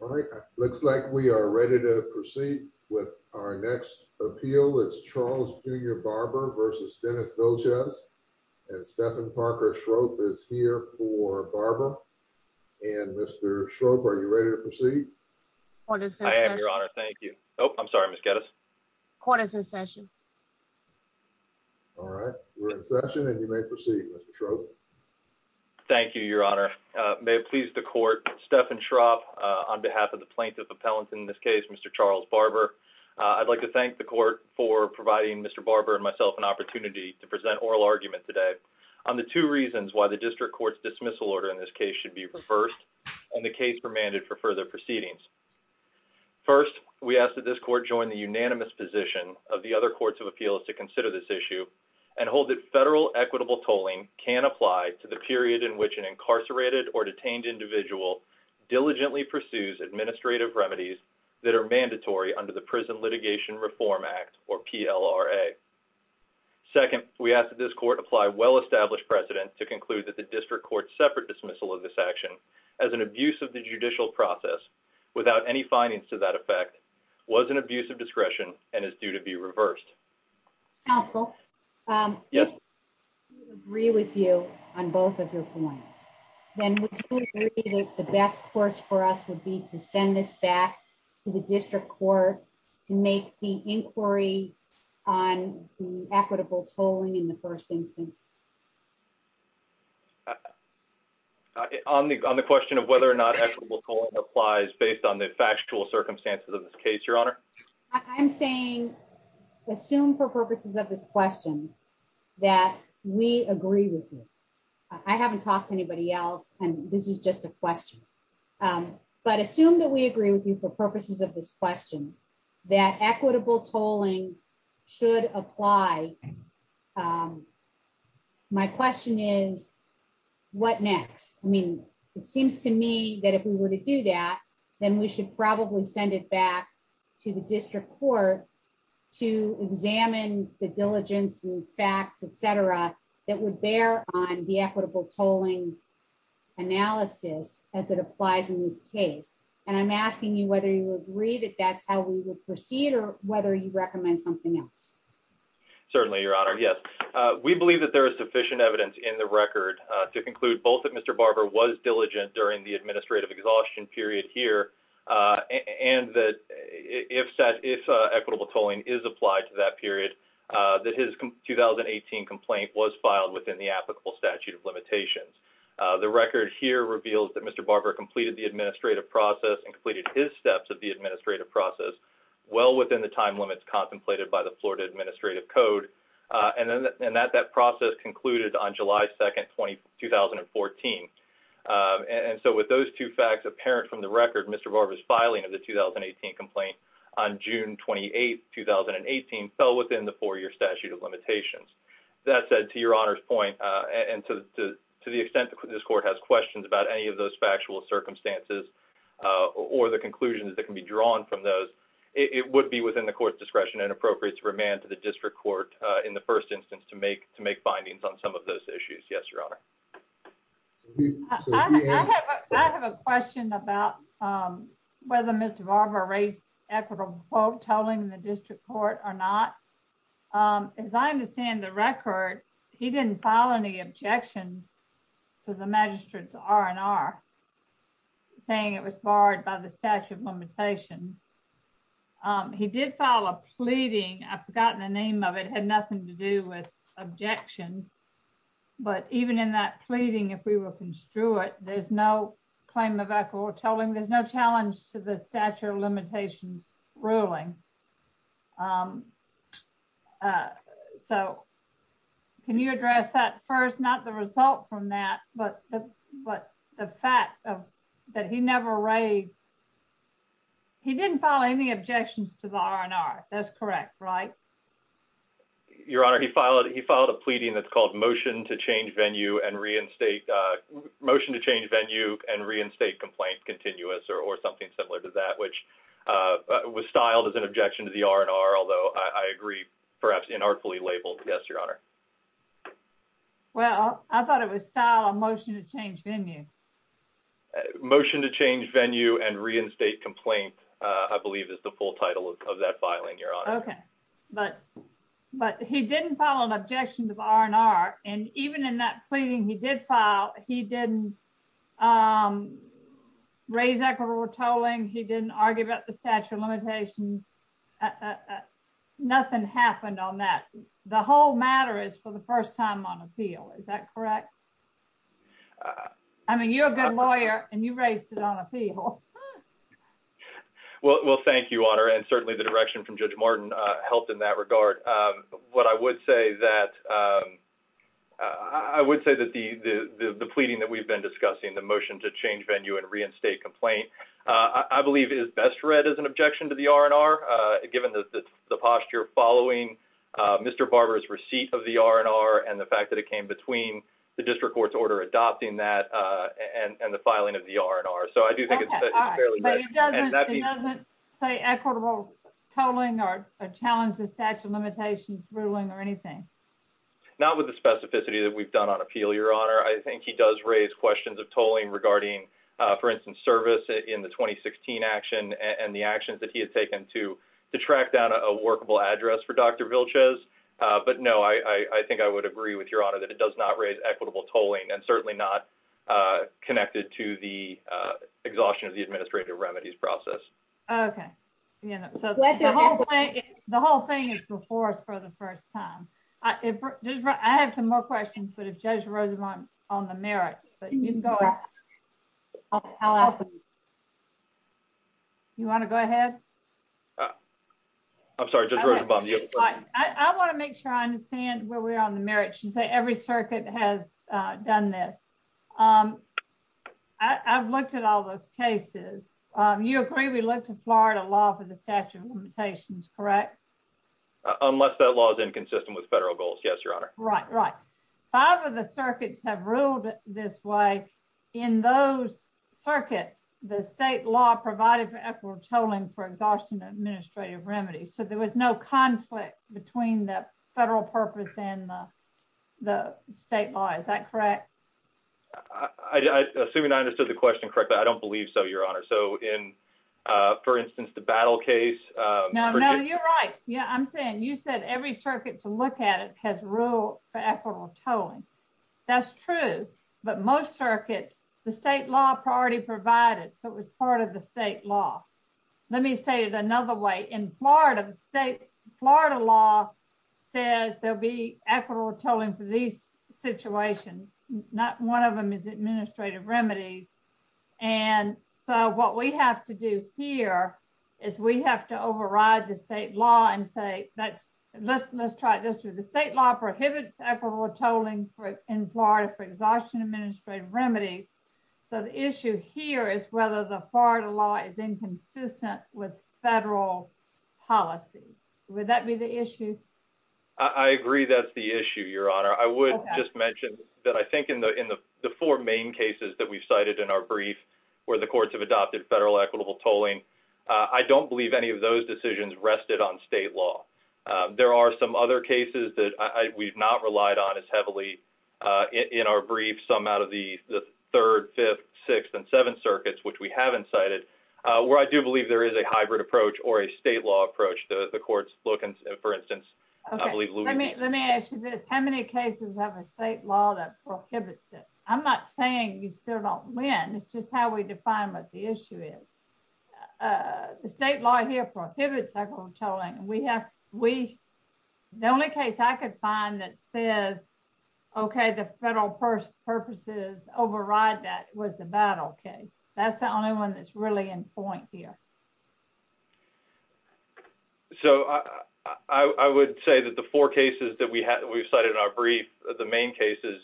All right, looks like we are ready to proceed with our next appeal. It's Charles Jr. Barber v. Denis Vilchez and Stephan Parker Schroep is here for Barber. And Mr. Schroep, are you ready to proceed? Court is in session. I am, Your Honor. Thank you. Oh, I'm sorry, Ms. Geddes. Court is in session. All right, we're in session and you may proceed, Mr. Schroep. Thank you, Your Honor. May it please the court, Stephan Schroep on behalf of the plaintiff appellant in this case, Mr. Charles Barber, I'd like to thank the court for providing Mr. Barber and myself an opportunity to present oral argument today on the two reasons why the district court's dismissal order in this case should be reversed and the case remanded for further proceedings. First, we ask that this court join the unanimous position of the other courts of appeals to consider this issue and hold that federal equitable tolling can apply to the period in which an incarcerated or detained individual diligently pursues administrative remedies that are mandatory under the Prison Litigation Reform Act or PLRA. Second, we ask that this court apply well-established precedent to conclude that the district court's separate dismissal of this action as an abuse of the judicial process without any findings to that effect was an abuse of Then would you agree that the best course for us would be to send this back to the district court to make the inquiry on equitable tolling in the first instance? On the question of whether or not equitable tolling applies based on the factual circumstances of this case, Your Honor, I'm saying assume for purposes of this question that we agree with you. I haven't talked to anybody else and this is just a question. But assume that we agree with you for purposes of this question that equitable tolling should apply. My question is, what next? I mean, it seems to me that if we were to do that, then we should probably send it back to the district court to examine the diligence and et cetera that would bear on the equitable tolling analysis as it applies in this case. And I'm asking you whether you agree that that's how we would proceed or whether you recommend something else. Certainly, Your Honor. Yes, we believe that there is sufficient evidence in the record to conclude both that Mr. Barber was diligent during the administrative exhaustion period here and that if equitable tolling is applied to that period, that his 2018 complaint was filed within the applicable statute of limitations. The record here reveals that Mr. Barber completed the administrative process and completed his steps of the administrative process well within the time limits contemplated by the Florida Administrative Code. And that process concluded on July 2nd, 2014. And so with those two facts apparent from the record, Mr. Barber's filing of the 2018 complaint on June 28th, 2018 fell within the four-year statute of limitations. That said, to Your Honor's point and to the extent that this court has questions about any of those factual circumstances or the conclusions that can be drawn from those, it would be within the court's discretion and appropriate to remand to the district court in the first instance to make findings on some of those issues. Yes, Your Honor. I have a question about whether Mr. Barber raised equitable tolling in the district court or not. As I understand the record, he didn't file any objections to the magistrate's R&R saying it was barred by the statute of limitations. He did file a pleading. I've forgotten the name of it. It had nothing to do with objections. But even in that pleading, if we were construed, there's no claim of equitable tolling. There's no challenge to the statute of limitations ruling. So can you address that first? Not the result from that, but the fact that he didn't file any objections to the R&R. That's correct, right? Your Honor, he filed a pleading that's called motion to change venue and reinstate complaint continuous or something similar to that, which was styled as an objection to the R&R, although I agree perhaps inartfully labeled. Yes, Your Honor. Well, I thought it was styled a motion to change venue. Motion to change venue and reinstate complaint, I believe, is the full title of that filing, Your Honor. Okay. But he didn't file an objection to the R&R. And even in that pleading he did file, he didn't raise equitable tolling. He didn't argue about the statute of limitations. Nothing happened on that. The whole matter is for the first time on appeal. Is that correct? I mean, you're a good lawyer and you raised it on appeal. Well, thank you, Your Honor. And certainly the direction from Judge Martin helped in that regard. What I would say that, I would say that the pleading that we've been discussing, the motion to change venue and reinstate complaint, I believe is best read as an objection to the R&R, given the posture following Mr. Barber's receipt of the R&R and the fact that it came between the district court's order adopting that and the filing of the R&R. So I do think it's fairly read. But it doesn't say equitable tolling or challenges statute of limitations ruling or anything? Not with the specificity that we've done on appeal, Your Honor. I think he does raise questions of tolling regarding, for instance, service in the 2016 action and the actions that he had taken to track down a workable address for Dr. Vilches. But no, I think I would agree with Your Honor that it does not raise equitable tolling and certainly not connected to the exhaustion of the administrative remedies process. Okay. So the whole thing is before us for the merits, but you can go ahead. You want to go ahead? I'm sorry. I want to make sure I understand where we are on the merits. You say every circuit has done this. I've looked at all those cases. You agree we look to Florida law for the statute of limitations, correct? Unless that law is consistent with federal goals. Yes, Your Honor. Right, right. Five of the circuits have ruled this way. In those circuits, the state law provided for equitable tolling for exhaustion administrative remedies. So there was no conflict between the federal purpose and the state law. Is that correct? I assume you understood the question correctly. I don't believe so, Your Honor. So in, for instance, the battle case. No, no, you're right. Yeah, I'm saying you said every circuit to look at it has ruled for equitable tolling. That's true. But most circuits, the state law priority provided, so it was part of the state law. Let me say it another way. In Florida, the state Florida law says there'll be equitable tolling for these situations. Not one of them is administrative remedies. And so what we have to do here is we have to override the state law and say that's let's let's try this with the state law prohibits equitable tolling for in Florida for exhaustion administrative remedies. So the issue here is whether the Florida law is inconsistent with federal policies. Would that be the issue? I agree that's the issue, Your Honor. I would just mention that I think in the in the four main cases that we've cited in our brief where the courts have adopted federal equitable tolling, I don't believe any of those decisions rested on state law. There are some other cases that we've not relied on as heavily in our brief, some out of the third, fifth, sixth and seventh circuits, which we haven't cited, where I do believe there is a hybrid approach or a state law approach. The courts look and, for instance, I believe let me let me ask you this, how many cases have a state law that prohibits it? I'm not saying you still don't win. It's just how we define what the issue is. The state law here prohibits equitable tolling. We have we the only case I could find that says, okay, the federal first purposes override that was the battle case. That's the only one that's really in point here. So I would say that the four cases that we have, we've cited in our brief, the main cases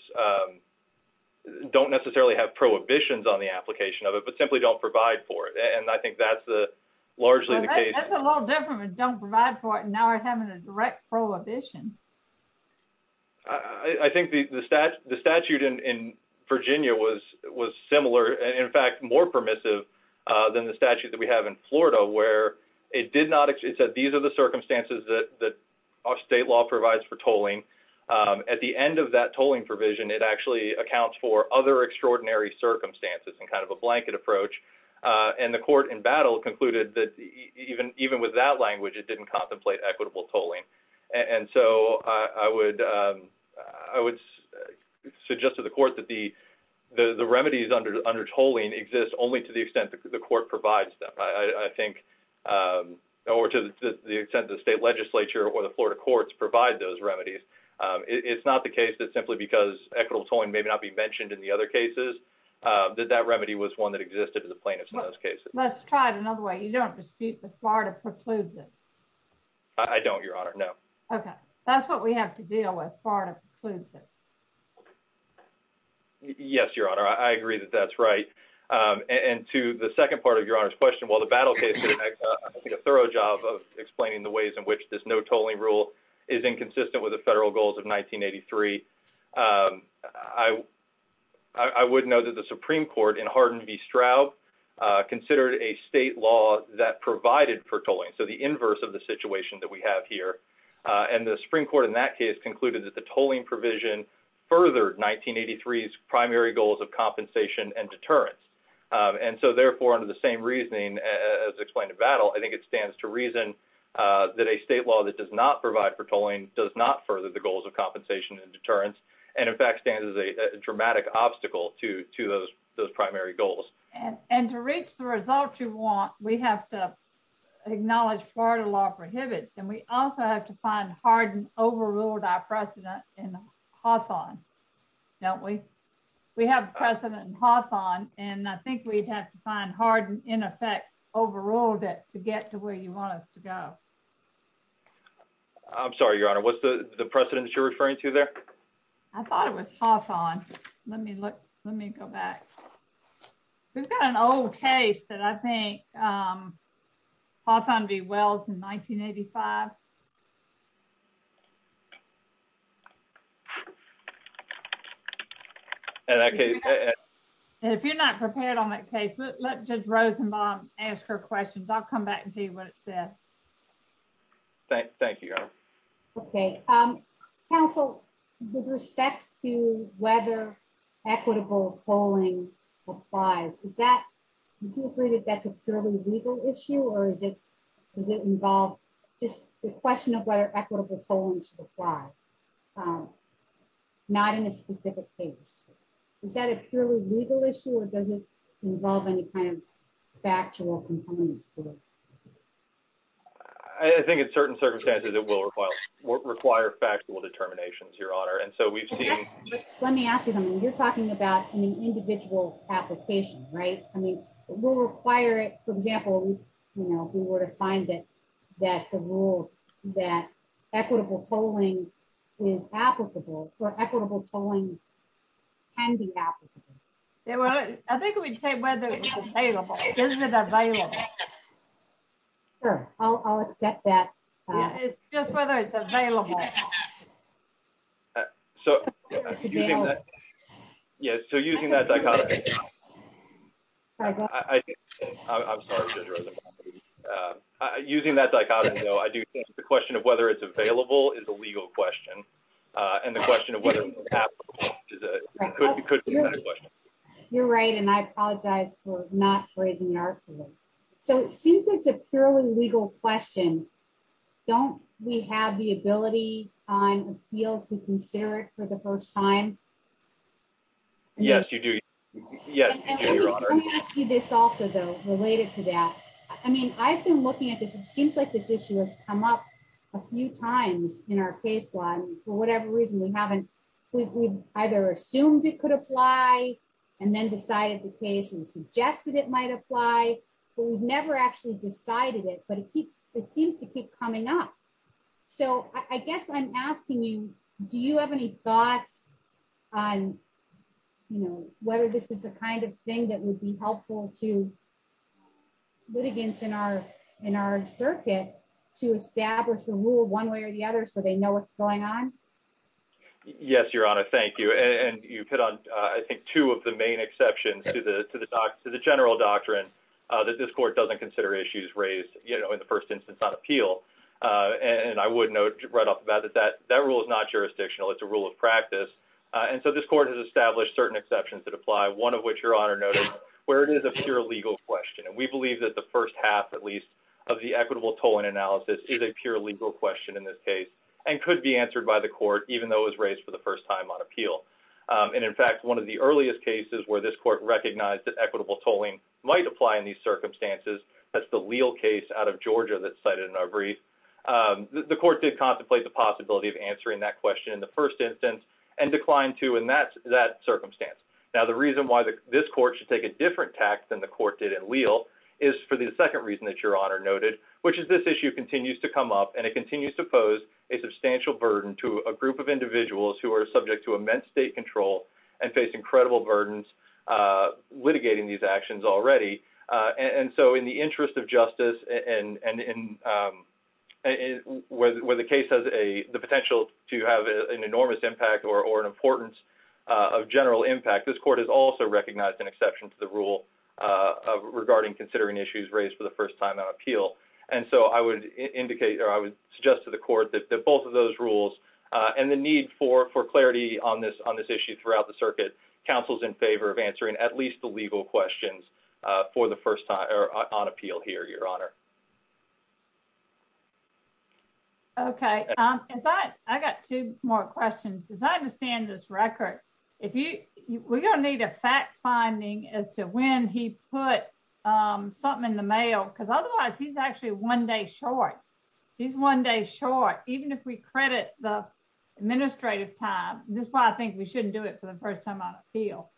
don't necessarily have prohibitions on the application of it, but simply don't provide for it. And I think that's the largely the case. That's a little different. We don't provide for it. Now we're having a direct prohibition. I think the statute in Virginia was was similar, in fact, more permissive than the statute that we have in Florida, where it did not. It said these are the circumstances that state law provides for tolling at the end of that tolling provision. It actually accounts for other extraordinary circumstances and kind of a blanket approach. And the court in battle concluded that even even with that language, it didn't contemplate equitable tolling. And so I would I would suggest to the court that the the remedies under under tolling exist only to the extent that the court provides them, I think, or to the extent the state legislature or the Florida courts provide those remedies. It's not the case that simply because equitable tolling may not be mentioned in the other cases, that that remedy was one that existed in the plaintiff's notice cases. Let's try it another way. You don't dispute the Florida precludes it. I don't, Your Honor. No. Okay. That's what we have to deal with. Florida precludes it. Yes, Your Honor, I agree that that's right. And to the second part of your honor's question, while the battle case, I think a thorough job of explaining the ways in which this no tolling rule is inconsistent with the federal goals of 1983. I, I would know that the Supreme Court in Hardin v. Straub considered a state law that provided for tolling. So the inverse of the situation that we have here, and the Supreme Court in that case concluded that the tolling provision furthered 1983 primary goals of compensation and deterrence. And so therefore, under the same reasoning, as explained in battle, I think it stands to reason that a state law that does not provide for tolling does not further the goals of compensation and deterrence, and in fact, is a dramatic obstacle to to those those primary goals. And and to reach the results you want, we have to acknowledge Florida law prohibits. And we also have to find Hardin overruled our precedent in Hawthorne. Don't we? We have precedent in Hawthorne. And I think we'd have to find Hardin in effect, overruled it to get to where you want us to go. I'm sorry, Your Honor, what's the precedents you're referring to there? I thought it was Hawthorne. Let me look. Let me go back. We've got an old case that I think Hawthorne v. Wells in 1985. If you're not prepared on that case, let Judge Rosenbaum ask her questions. I'll come back and say. Thank you, Your Honor. Okay. Counsel, with respect to whether equitable tolling applies, is that you agree that that's a purely legal issue? Or is it does it involve just the question of whether equitable tolling should apply? Not in a specific case? Is that a purely legal issue? Does it involve any kind of factual components? I think in certain circumstances, it will require factual determinations, Your Honor. Let me ask you something. You're talking about an individual application, right? I mean, we'll require it. For example, if we were to find it, that the rule that equitable tolling is applicable, or equitable tolling can be applicable. I think we'd say whether it's available. Is it available? Sure, I'll accept that. It's just whether it's available. So, using that, yes, so using that dichotomy, I'm sorry. Using that dichotomy, though, I do think the question of whether it's available is a legal question. And the question of whether it's applicable could be a question. You're right, and I apologize for not phrasing it accurately. So, since it's a purely legal question, don't we have the ability on appeal to consider it for the first time? Yes, you do. Yes, Your Honor. Let me ask you this also, though, related to that. I mean, I've been looking at this, it seems like this issue has come up a few times in our case law. And for whatever reason, we haven't, we've either assumed it could apply, and then decided the case and suggested it might apply. But we've never actually decided it, but it keeps, it seems to keep coming up. So, I guess I'm asking you, do you have any thoughts on, you know, whether this is the kind of thing that would be helpful to litigants in our, in our circuit, to establish a rule one way or the other, so they know what's going on? Yes, Your Honor, thank you. And you put on, I think, two of the main exceptions to the general doctrine that this court doesn't consider issues raised, you know, in the first instance on appeal. And I would note right off the bat that that rule is not jurisdictional, it's a rule of practice. And so, this court has established certain exceptions that apply, one of which, Your Honor noted, where it is a pure legal question. And we believe that the first half, at least, of the equitable tolling analysis is a pure legal question in this case, and could be answered by the court, even though it was raised for the first time on appeal. And in fact, one of the earliest cases where this court recognized that equitable that's the Leal case out of Georgia that's cited in our brief. The court did contemplate the possibility of answering that question in the first instance, and declined to in that circumstance. Now, the reason why this court should take a different tact than the court did in Leal is for the second reason that Your Honor noted, which is this issue continues to come up, and it continues to pose a substantial burden to a group of individuals who are subject to And so, in the interest of justice, and where the case has the potential to have an enormous impact or an importance of general impact, this court has also recognized an exception to the rule regarding considering issues raised for the first time on appeal. And so, I would suggest to the court that both of those rules, and the need for clarity on this issue throughout the circuit, counsel's in favor of answering at least the legal questions for the first time on appeal here, Your Honor. Okay. I got two more questions. As I understand this record, if you were gonna need a fact finding as to when he put something in the mail, because otherwise, he's actually one day short. He's one day short, even if we credit the administrative time. This is why I think we shouldn't do it for the first time on appeal.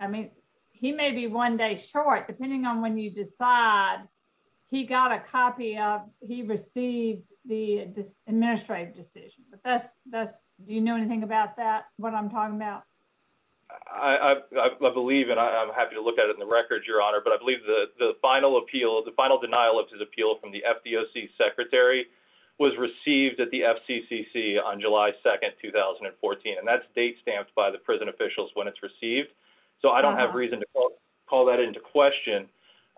I mean, he may be one day short, depending on when you decide he got a copy of, he received the administrative decision. But that's, that's, do you know anything about that, what I'm talking about? I believe, and I'm happy to look at it in the records, Your Honor, but I believe the final appeal, the final denial of his appeal from the FDOC Secretary was received at the FCCC on July 2nd, 2014. And that's date stamped by the prison officials when it's received. So I don't have reason to call that into question.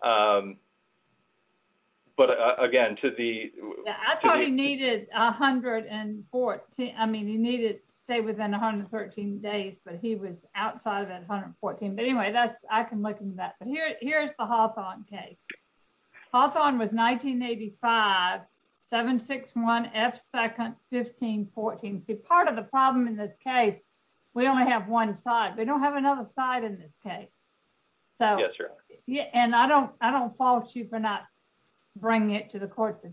But again, to the... I thought he needed 114, I mean, he needed to stay within 113 days, but he was outside of 114. But anyway, that's, I can look into that. But here, here's the Hawthorne case. Hawthorne was 1985, 761 F 2nd, 1514. So part of the problem in this case, we only have one side, we don't have another side in this case. So yeah, and I don't, I don't fault you for not bringing it to the court's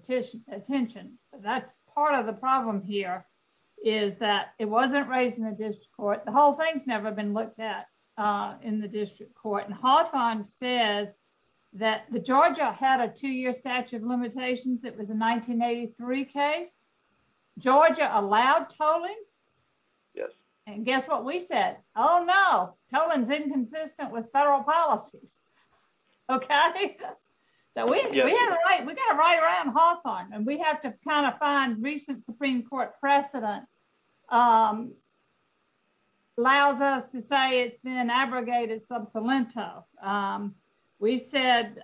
attention. But that's part of the problem here is that it wasn't raised in the district court. The whole thing's never been looked at in the district court. And Hawthorne says that the Georgia had a two-year statute of limitations. It was a 1983 case. Georgia allowed tolling. Yes. And guess what we said? Oh, no, tolling's inconsistent with federal policies. Okay. So we got to write around Hawthorne. And we have to kind of find recent Supreme Court precedent that allows us to say it's been abrogated sub saliento. We said,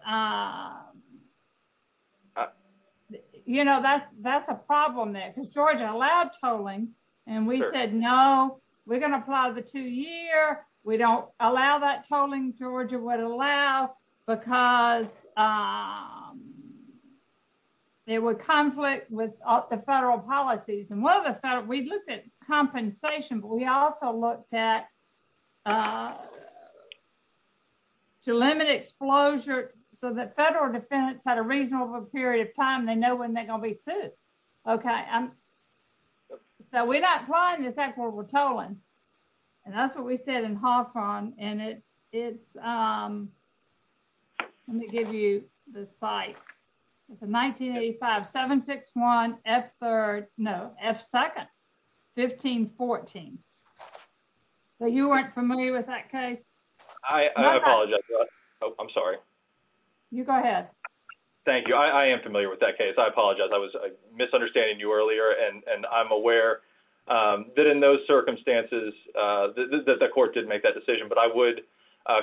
you know, that's, that's a problem there because Georgia allowed tolling. And we said, no, we're going to apply the two-year. We don't allow that tolling. Georgia would allow because there were conflict with the federal policies. And one of the, we looked at compensation, but we also looked at to limit exposure so that federal defendants had a reasonable period of time. They know when they're going to be sued. Okay. So we're not applying this act where we're tolling. And that's what we said in Hawthorne. And it's, it's, let me give you the site. It's a 1985, 761, F3rd, no, F2nd, 1514. So you weren't familiar with that case? I apologize. Oh, I'm sorry. You go ahead. Thank you. I am familiar with that case. I apologize. I was misunderstanding you and I'm aware that in those circumstances that the court didn't make that decision, but I would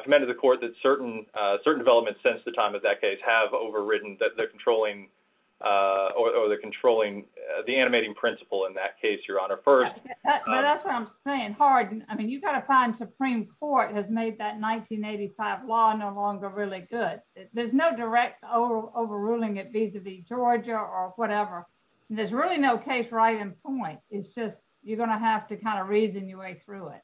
commend to the court that certain certain developments since the time of that case have overridden that they're controlling or they're controlling the animating principle in that case, your honor first. That's what I'm saying. Hard. I mean, you've got to find Supreme Court has made that 1985 law no longer really good. There's no direct overruling it vis-a-vis Georgia or whatever. There's really no case right in point. It's just, you're going to have to kind of reason your way through it.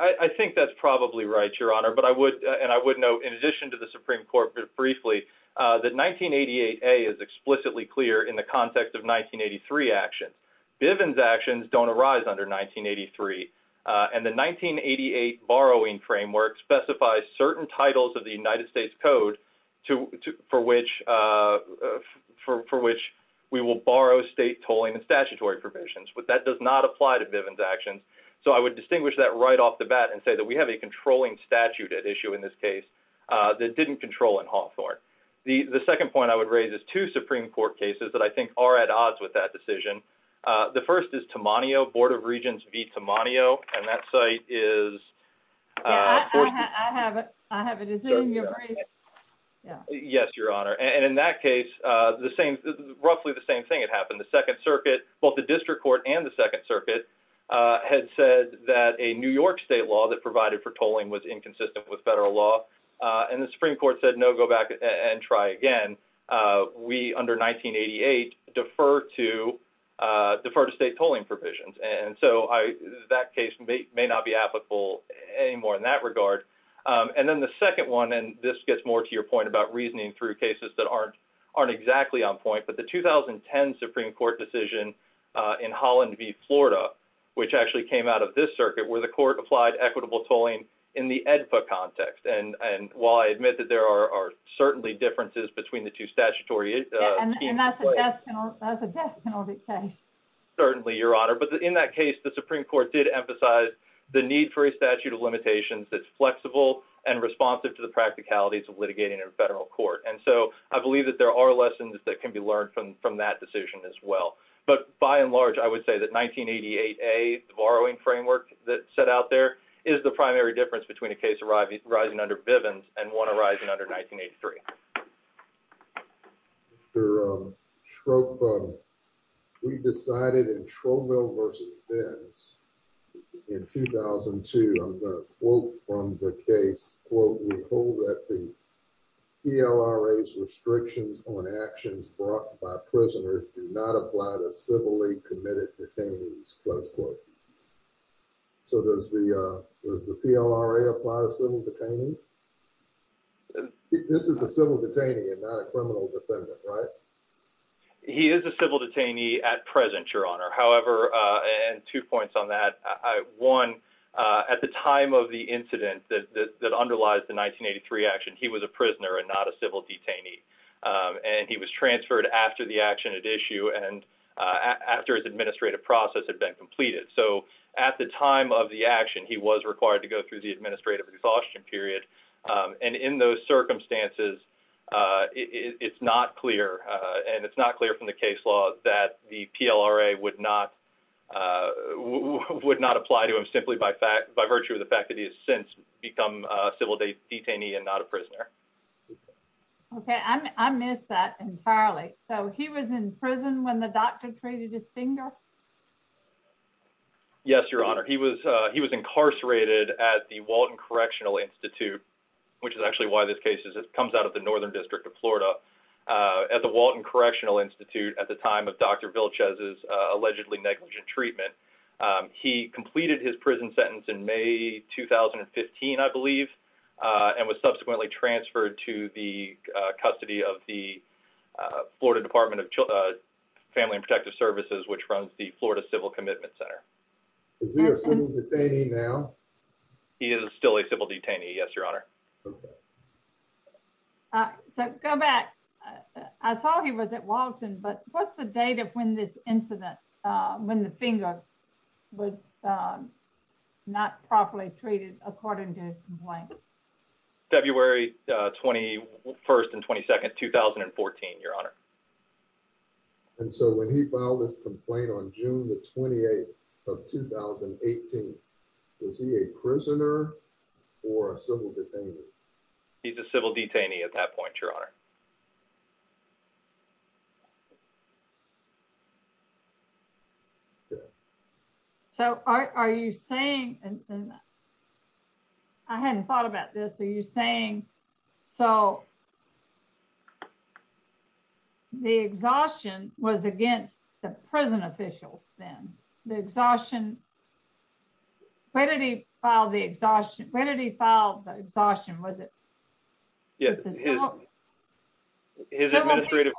I think that's probably right, your honor. But I would, and I would know in addition to the Supreme Court briefly, the 1988 a is explicitly clear in the context of 1983 actions. Bivens actions don't arise under 1983. And the 1988 borrowing framework specifies certain titles of the United States code for which for, for which we will borrow state tolling and statutory provisions, but that does not apply to Bivens actions. So I would distinguish that right off the bat and say that we have a controlling statute at issue in this case that didn't control in Hawthorne. The second point I would raise is two Supreme Court cases that I think are at odds with that decision. The first is Tammanio Board of Regents V Tammanio. And that site is. Yeah, I have it. I have it. Is it in your brief? Yes, your honor. And in that case the same, roughly the same thing had happened. The second circuit, both the district court and the second circuit had said that a New York state law that provided for tolling was inconsistent with federal law. And the Supreme Court said, no, go back and try again. We under 1988 defer to defer to state tolling provisions. And so I, that case may not be applicable anymore in that regard. And then the second one, and this gets more to your point about reasoning through cases that aren't aren't exactly on point, but the 2010 Supreme Court decision in Holland V Florida, which actually came out of this circuit, where the court applied equitable tolling in the Edpa context. And, and while I admit that there are certainly differences between the two statutory. And that's a death penalty case. Certainly your honor. But in that case, the Supreme Court did emphasize the need for a statute of limitations that's flexible and responsive to the practicalities of litigating in a federal court. And so I believe that there are lessons that can be learned from, from that decision as well. But by and large, I would say that 1988, a borrowing framework that set out there is the primary difference between a case arriving, rising under Bivens and one cited in Trouville versus Benz in 2002, I'm going to quote from the case, quote, we hold that the PLRAs restrictions on actions brought by prisoners do not apply to civilly committed detainees, close quote. So does the, does the PLRA apply to civil detainees? This is a civil detainee and not a criminal defendant, right? He is a civil detainee at present, your honor. However, and two points on that. One, at the time of the incident that, that, that underlies the 1983 action, he was a prisoner and not a civil detainee. And he was transferred after the action at issue and after his administrative process had been completed. So at the time of the action, he was required to go through the administrative exhaustion period. And in those circumstances it's not clear and it's not clear from the case law that the PLRA would not, would not apply to him simply by fact, by virtue of the fact that he has since become a civil detainee and not a prisoner. Okay. I missed that entirely. So he was in prison when the doctor treated his finger? Yes, your honor. He was, he was incarcerated at the Walton Correctional Institute, which is actually why this case is, it comes out of the Northern District of Florida at the Walton Correctional Institute at the time of Dr. Vilches' allegedly negligent treatment. He completed his prison sentence in May 2015, I believe, and was subsequently transferred to the custody of the Florida Department of Family and Protective Services, which runs the Florida Civil Commitment Center. Is he a civil detainee now? He is still a civil detainee. Yes, your honor. Okay. So go back. I saw he was at Walton, but what's the date of when this incident, when the finger was not properly treated according to his complaint? February 21st and 22nd, 2014, your honor. And so when he filed his complaint on June the 28th of 2018, was he a prisoner or a civil detainee? He's a civil detainee at that point, your honor. So are you saying, and I hadn't thought about this, are you saying, so the exhaustion was against the prison officials then? The exhaustion, where did he file the exhaustion? Where did he file the exhaustion? Was it? Yes. His administrative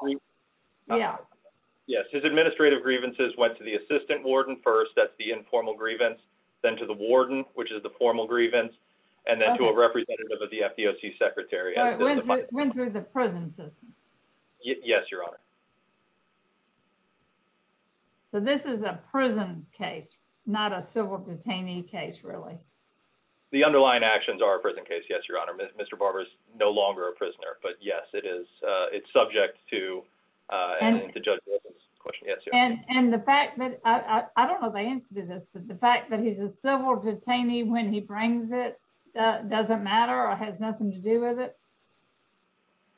grievances went to the assistant warden first, that's the informal grievance, then to the warden, which is the formal grievance, and then to a representative of the FDOC secretary. It went through the prison system. Yes, your honor. So this is a prison case, not a civil detainee case, really? The underlying actions are a prison case, yes, your honor. Mr. Barber is no longer a prisoner, but yes, it is. It's subject to and to judge. And the fact that, I don't know the answer to this, but the fact that he's a prisoner,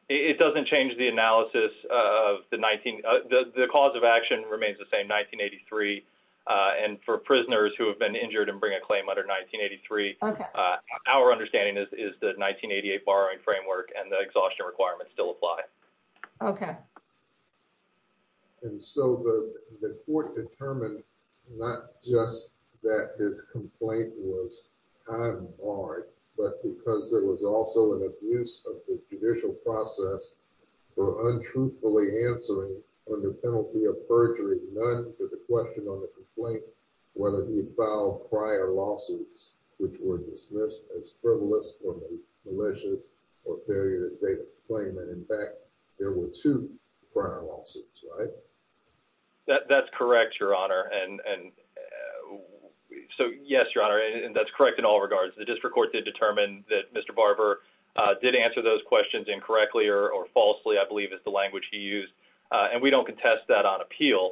it doesn't change the analysis of the 19, the cause of action remains the same, 1983. And for prisoners who have been injured and bring a claim under 1983, our understanding is the 1988 borrowing framework and the exhaustion requirements still apply. Okay. And so the court determined not just that this complaint was time barred, but because there was also an abuse of the judicial process for untruthfully answering under penalty of perjury, none for the question on the complaint, whether he filed prior lawsuits, which were dismissed as frivolous or malicious or failure to state a claim. And in fact, there were two prior lawsuits, right? That's correct, your honor. And so yes, your honor, and that's correct in all regards. The district court did determine that Mr. Barber did answer those questions incorrectly or falsely, I believe is the language he used. And we don't contest that on appeal.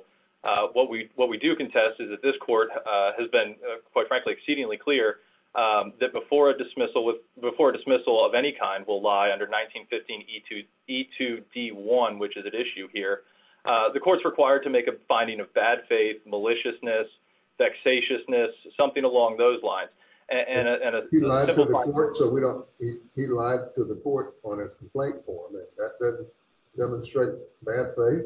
What we do contest is that this court has been quite frankly, exceedingly clear that before a dismissal of any kind will lie under 1915 E2D1, which is at issue here, the court's required to make a finding of bad faith, maliciousness, vexatiousness, something along those lines. He lied to the court on his complaint form. That doesn't demonstrate bad faith.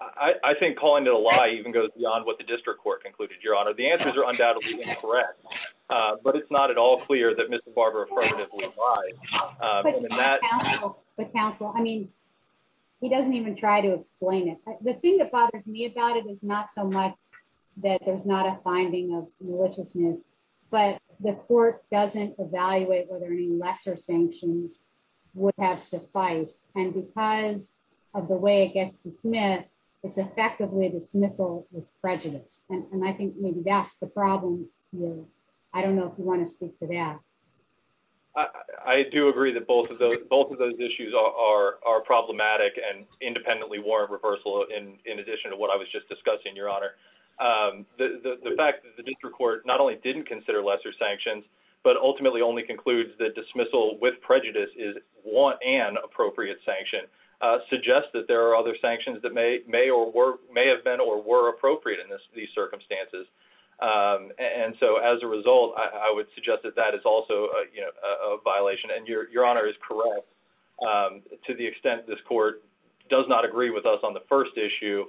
I think calling it a lie even goes beyond what the district court concluded, your honor. The answers are undoubtedly incorrect, but it's not at all clear that Mr. Barber affirmatively lied. But counsel, I mean, he doesn't even try to explain it. The thing that bothers me about it is not so much that there's not a finding of maliciousness, but the court doesn't evaluate whether any lesser sanctions would have sufficed. And because of the way it gets dismissed, it's effectively a dismissal with prejudice. And I think maybe that's the problem here. I don't know if you want to speak to that. I do agree that both of those issues are problematic and independently warrant reversal in addition to what I was just discussing, your honor. The fact that the district court not only didn't consider lesser sanctions, but ultimately only concludes that dismissal with prejudice is want and appropriate sanction suggests that there are other sanctions that may or may have been or were appropriate in these circumstances. And so as a result, I would suggest that that is also a violation. And your honor is correct. To the extent this court does not agree with us on the first issue,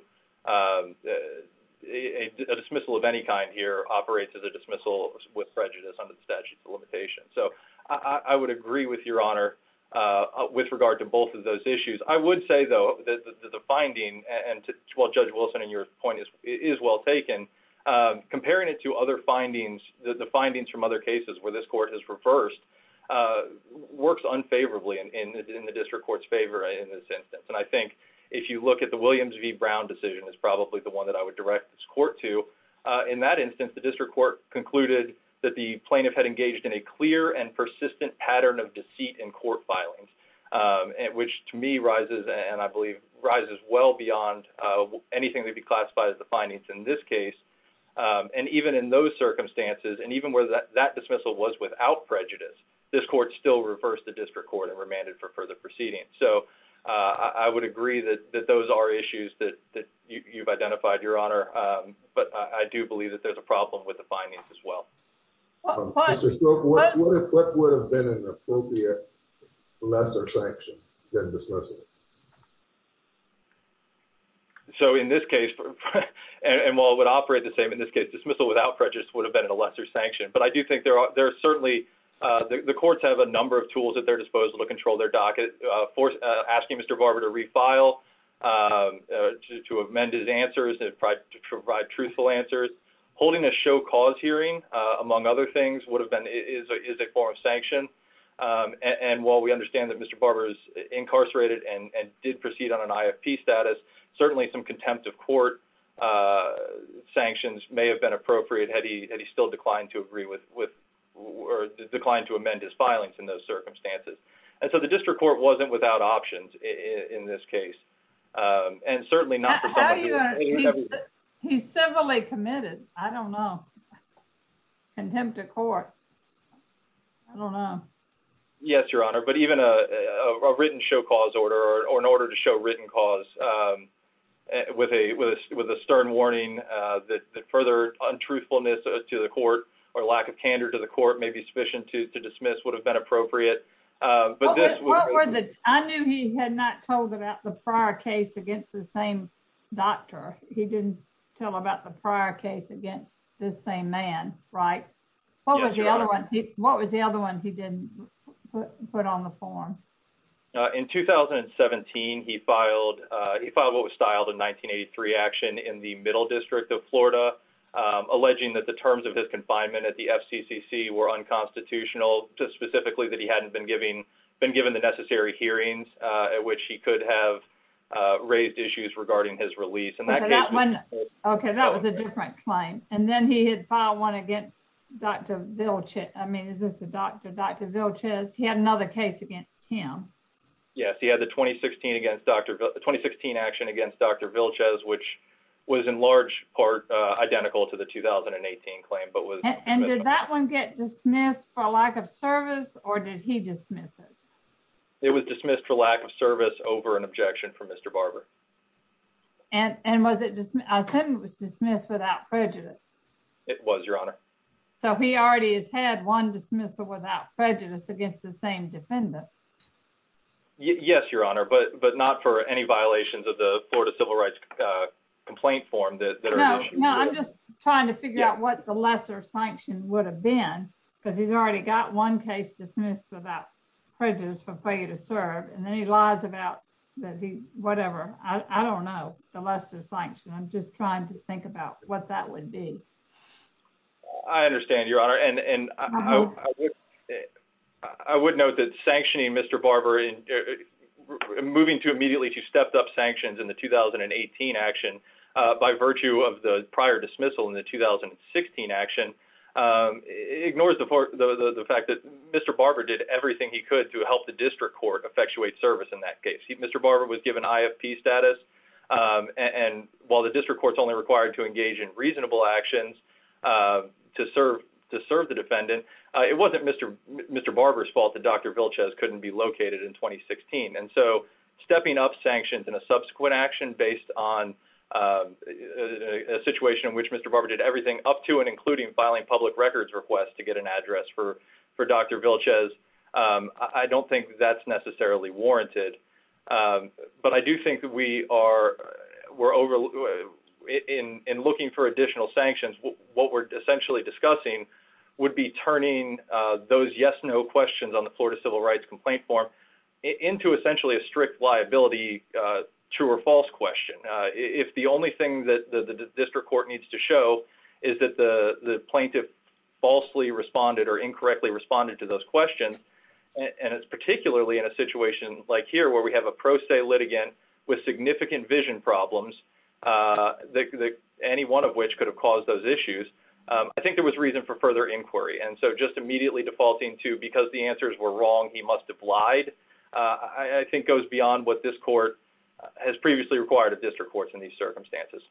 a dismissal of any kind here operates as a dismissal with prejudice under the statute of limitations. So I would agree with your honor with regard to both of those issues. I would say, though, that the finding and Judge Wilson and your point is well taken. Comparing it to other findings, the findings from other cases where this court has reversed works unfavorably in the district court's favor in this instance. And I think if you look at the Williams v. Brown decision is probably the one that I would direct this court to. In that instance, the district court concluded that the plaintiff had engaged in a clear and persistent pattern of deceit in court filings, which to me rises and I believe rises well beyond anything that would be classified as the findings in this case. And even in those circumstances and even where that dismissal was without prejudice, this court still reversed the district court and remanded for further proceedings. So I would agree that those are issues that you've identified, your honor. But I do believe that there's a problem with the findings as well. What would have been an appropriate lesser sanction than dismissal? So in this case, and while it would operate the same in this case, dismissal without prejudice would have been a lesser sanction. But I do think there are, there are certainly, the courts have a number of tools at their disposal to control their docket, asking Mr. Barber to refile, to amend his answers, to provide truthful answers. Holding a show cause hearing, among other things, would have been, is a form of sanction. And while we understand that Mr. Barber is incarcerated and did proceed on an IFP status, certainly some contempt of court sanctions may have been appropriate had he, had he still declined to agree with, or declined to amend his filings in those circumstances. And so the district court wasn't without options in this case. And certainly not for someone who was. He's civilly committed. I don't know. Contempt of court. I don't know. Yes, your honor. But even a written show cause order or an order to show written cause with a, with a stern warning that further untruthfulness to the court or lack of candor to the court may be sufficient to dismiss would have been appropriate. I knew he had not told about the prior case against the same doctor. He didn't tell about the prior case against this same man, right? What was the other one he didn't put on the form? In 2017, he filed, he filed what was styled in 1983 action in the middle district of Florida, alleging that the terms of his confinement at the FCCC were unconstitutional, just specifically that he hadn't been giving, been given the necessary hearings at which he could have raised issues regarding his release. Okay. That was a different claim. And then he had filed one against Dr. Vilches. I mean, this is the doctor, Dr. Vilches. He had another case against him. Yes. He had the 2016 against Dr. 2016 action against Dr. Vilches, which was in large part identical to the 2018 claim, but was, and did that one get dismissed for lack of service or did he dismiss it? It was dismissed for lack of service over an objection from Mr. Barber. And, and was it just, I said it was dismissed without prejudice. It was your honor. So he already has had one dismissal without prejudice against the same defendant. Yes, your honor. But, but not for any violations of the Florida civil rights complaint form that are issued. No, I'm just trying to figure out what the lesser sanction would have been because he's already got one case dismissed without prejudice for failure to serve. And then he lies about that. He, whatever, I don't know the lesser sanction. I'm just trying to think about what that would be. I understand your honor. And I would note that sanctioning Mr. Barber moving to immediately to stepped up sanctions in the 2018 action by virtue of the prior dismissal in the 2016 action ignores the fact that Mr. Barber did everything he could to help the district court effectuate service. In that case, Mr. Barber was given IFP status. And while the reasonable actions to serve, to serve the defendant, it wasn't Mr. Mr. Barber's fault that Dr. Vilches couldn't be located in 2016. And so stepping up sanctions in a subsequent action based on a situation in which Mr. Barber did everything up to and including filing public records request to get an address for, for Dr. Vilches. I don't think that's necessarily warranted. But I do think that we are, we're over in, in looking for additional sanctions, what we're essentially discussing would be turning those yes, no questions on the Florida civil rights complaint form into essentially a strict liability, true or false question. If the only thing that the district court needs to show is that the plaintiff falsely responded or incorrectly responded to those questions. And it's particularly in a situation like here, where we have a pro se litigant with significant vision problems, that any one of which could have caused those issues. I think there was reason for further inquiry. And so just immediately defaulting to because the answers were wrong, he must have lied, I think goes beyond what this court has previously required a district courts in these circumstances.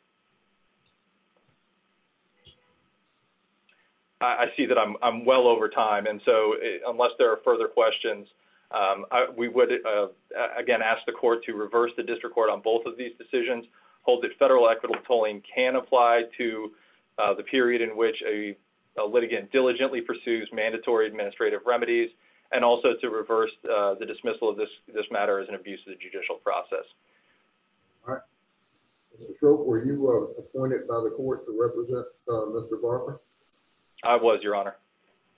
I see that I'm well over time. And so unless there are further questions, we would, again, ask the court to reverse the district court on both of these decisions, hold the federal equitable tolling can apply to the period in which a litigant diligently pursues mandatory administrative remedies, and also to reverse the dismissal of this, this matter is an abusive judicial process. All right. So were you appointed by the court to represent Mr. Barker? I was your honor.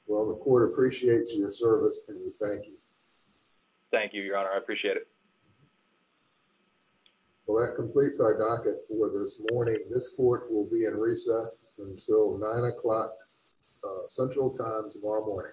Well, the court appreciates your service. Thank you. Thank you, Your Honor. I appreciate it. Well, that completes our docket for this morning. This court will be in recess until nine o'clock central time tomorrow morning.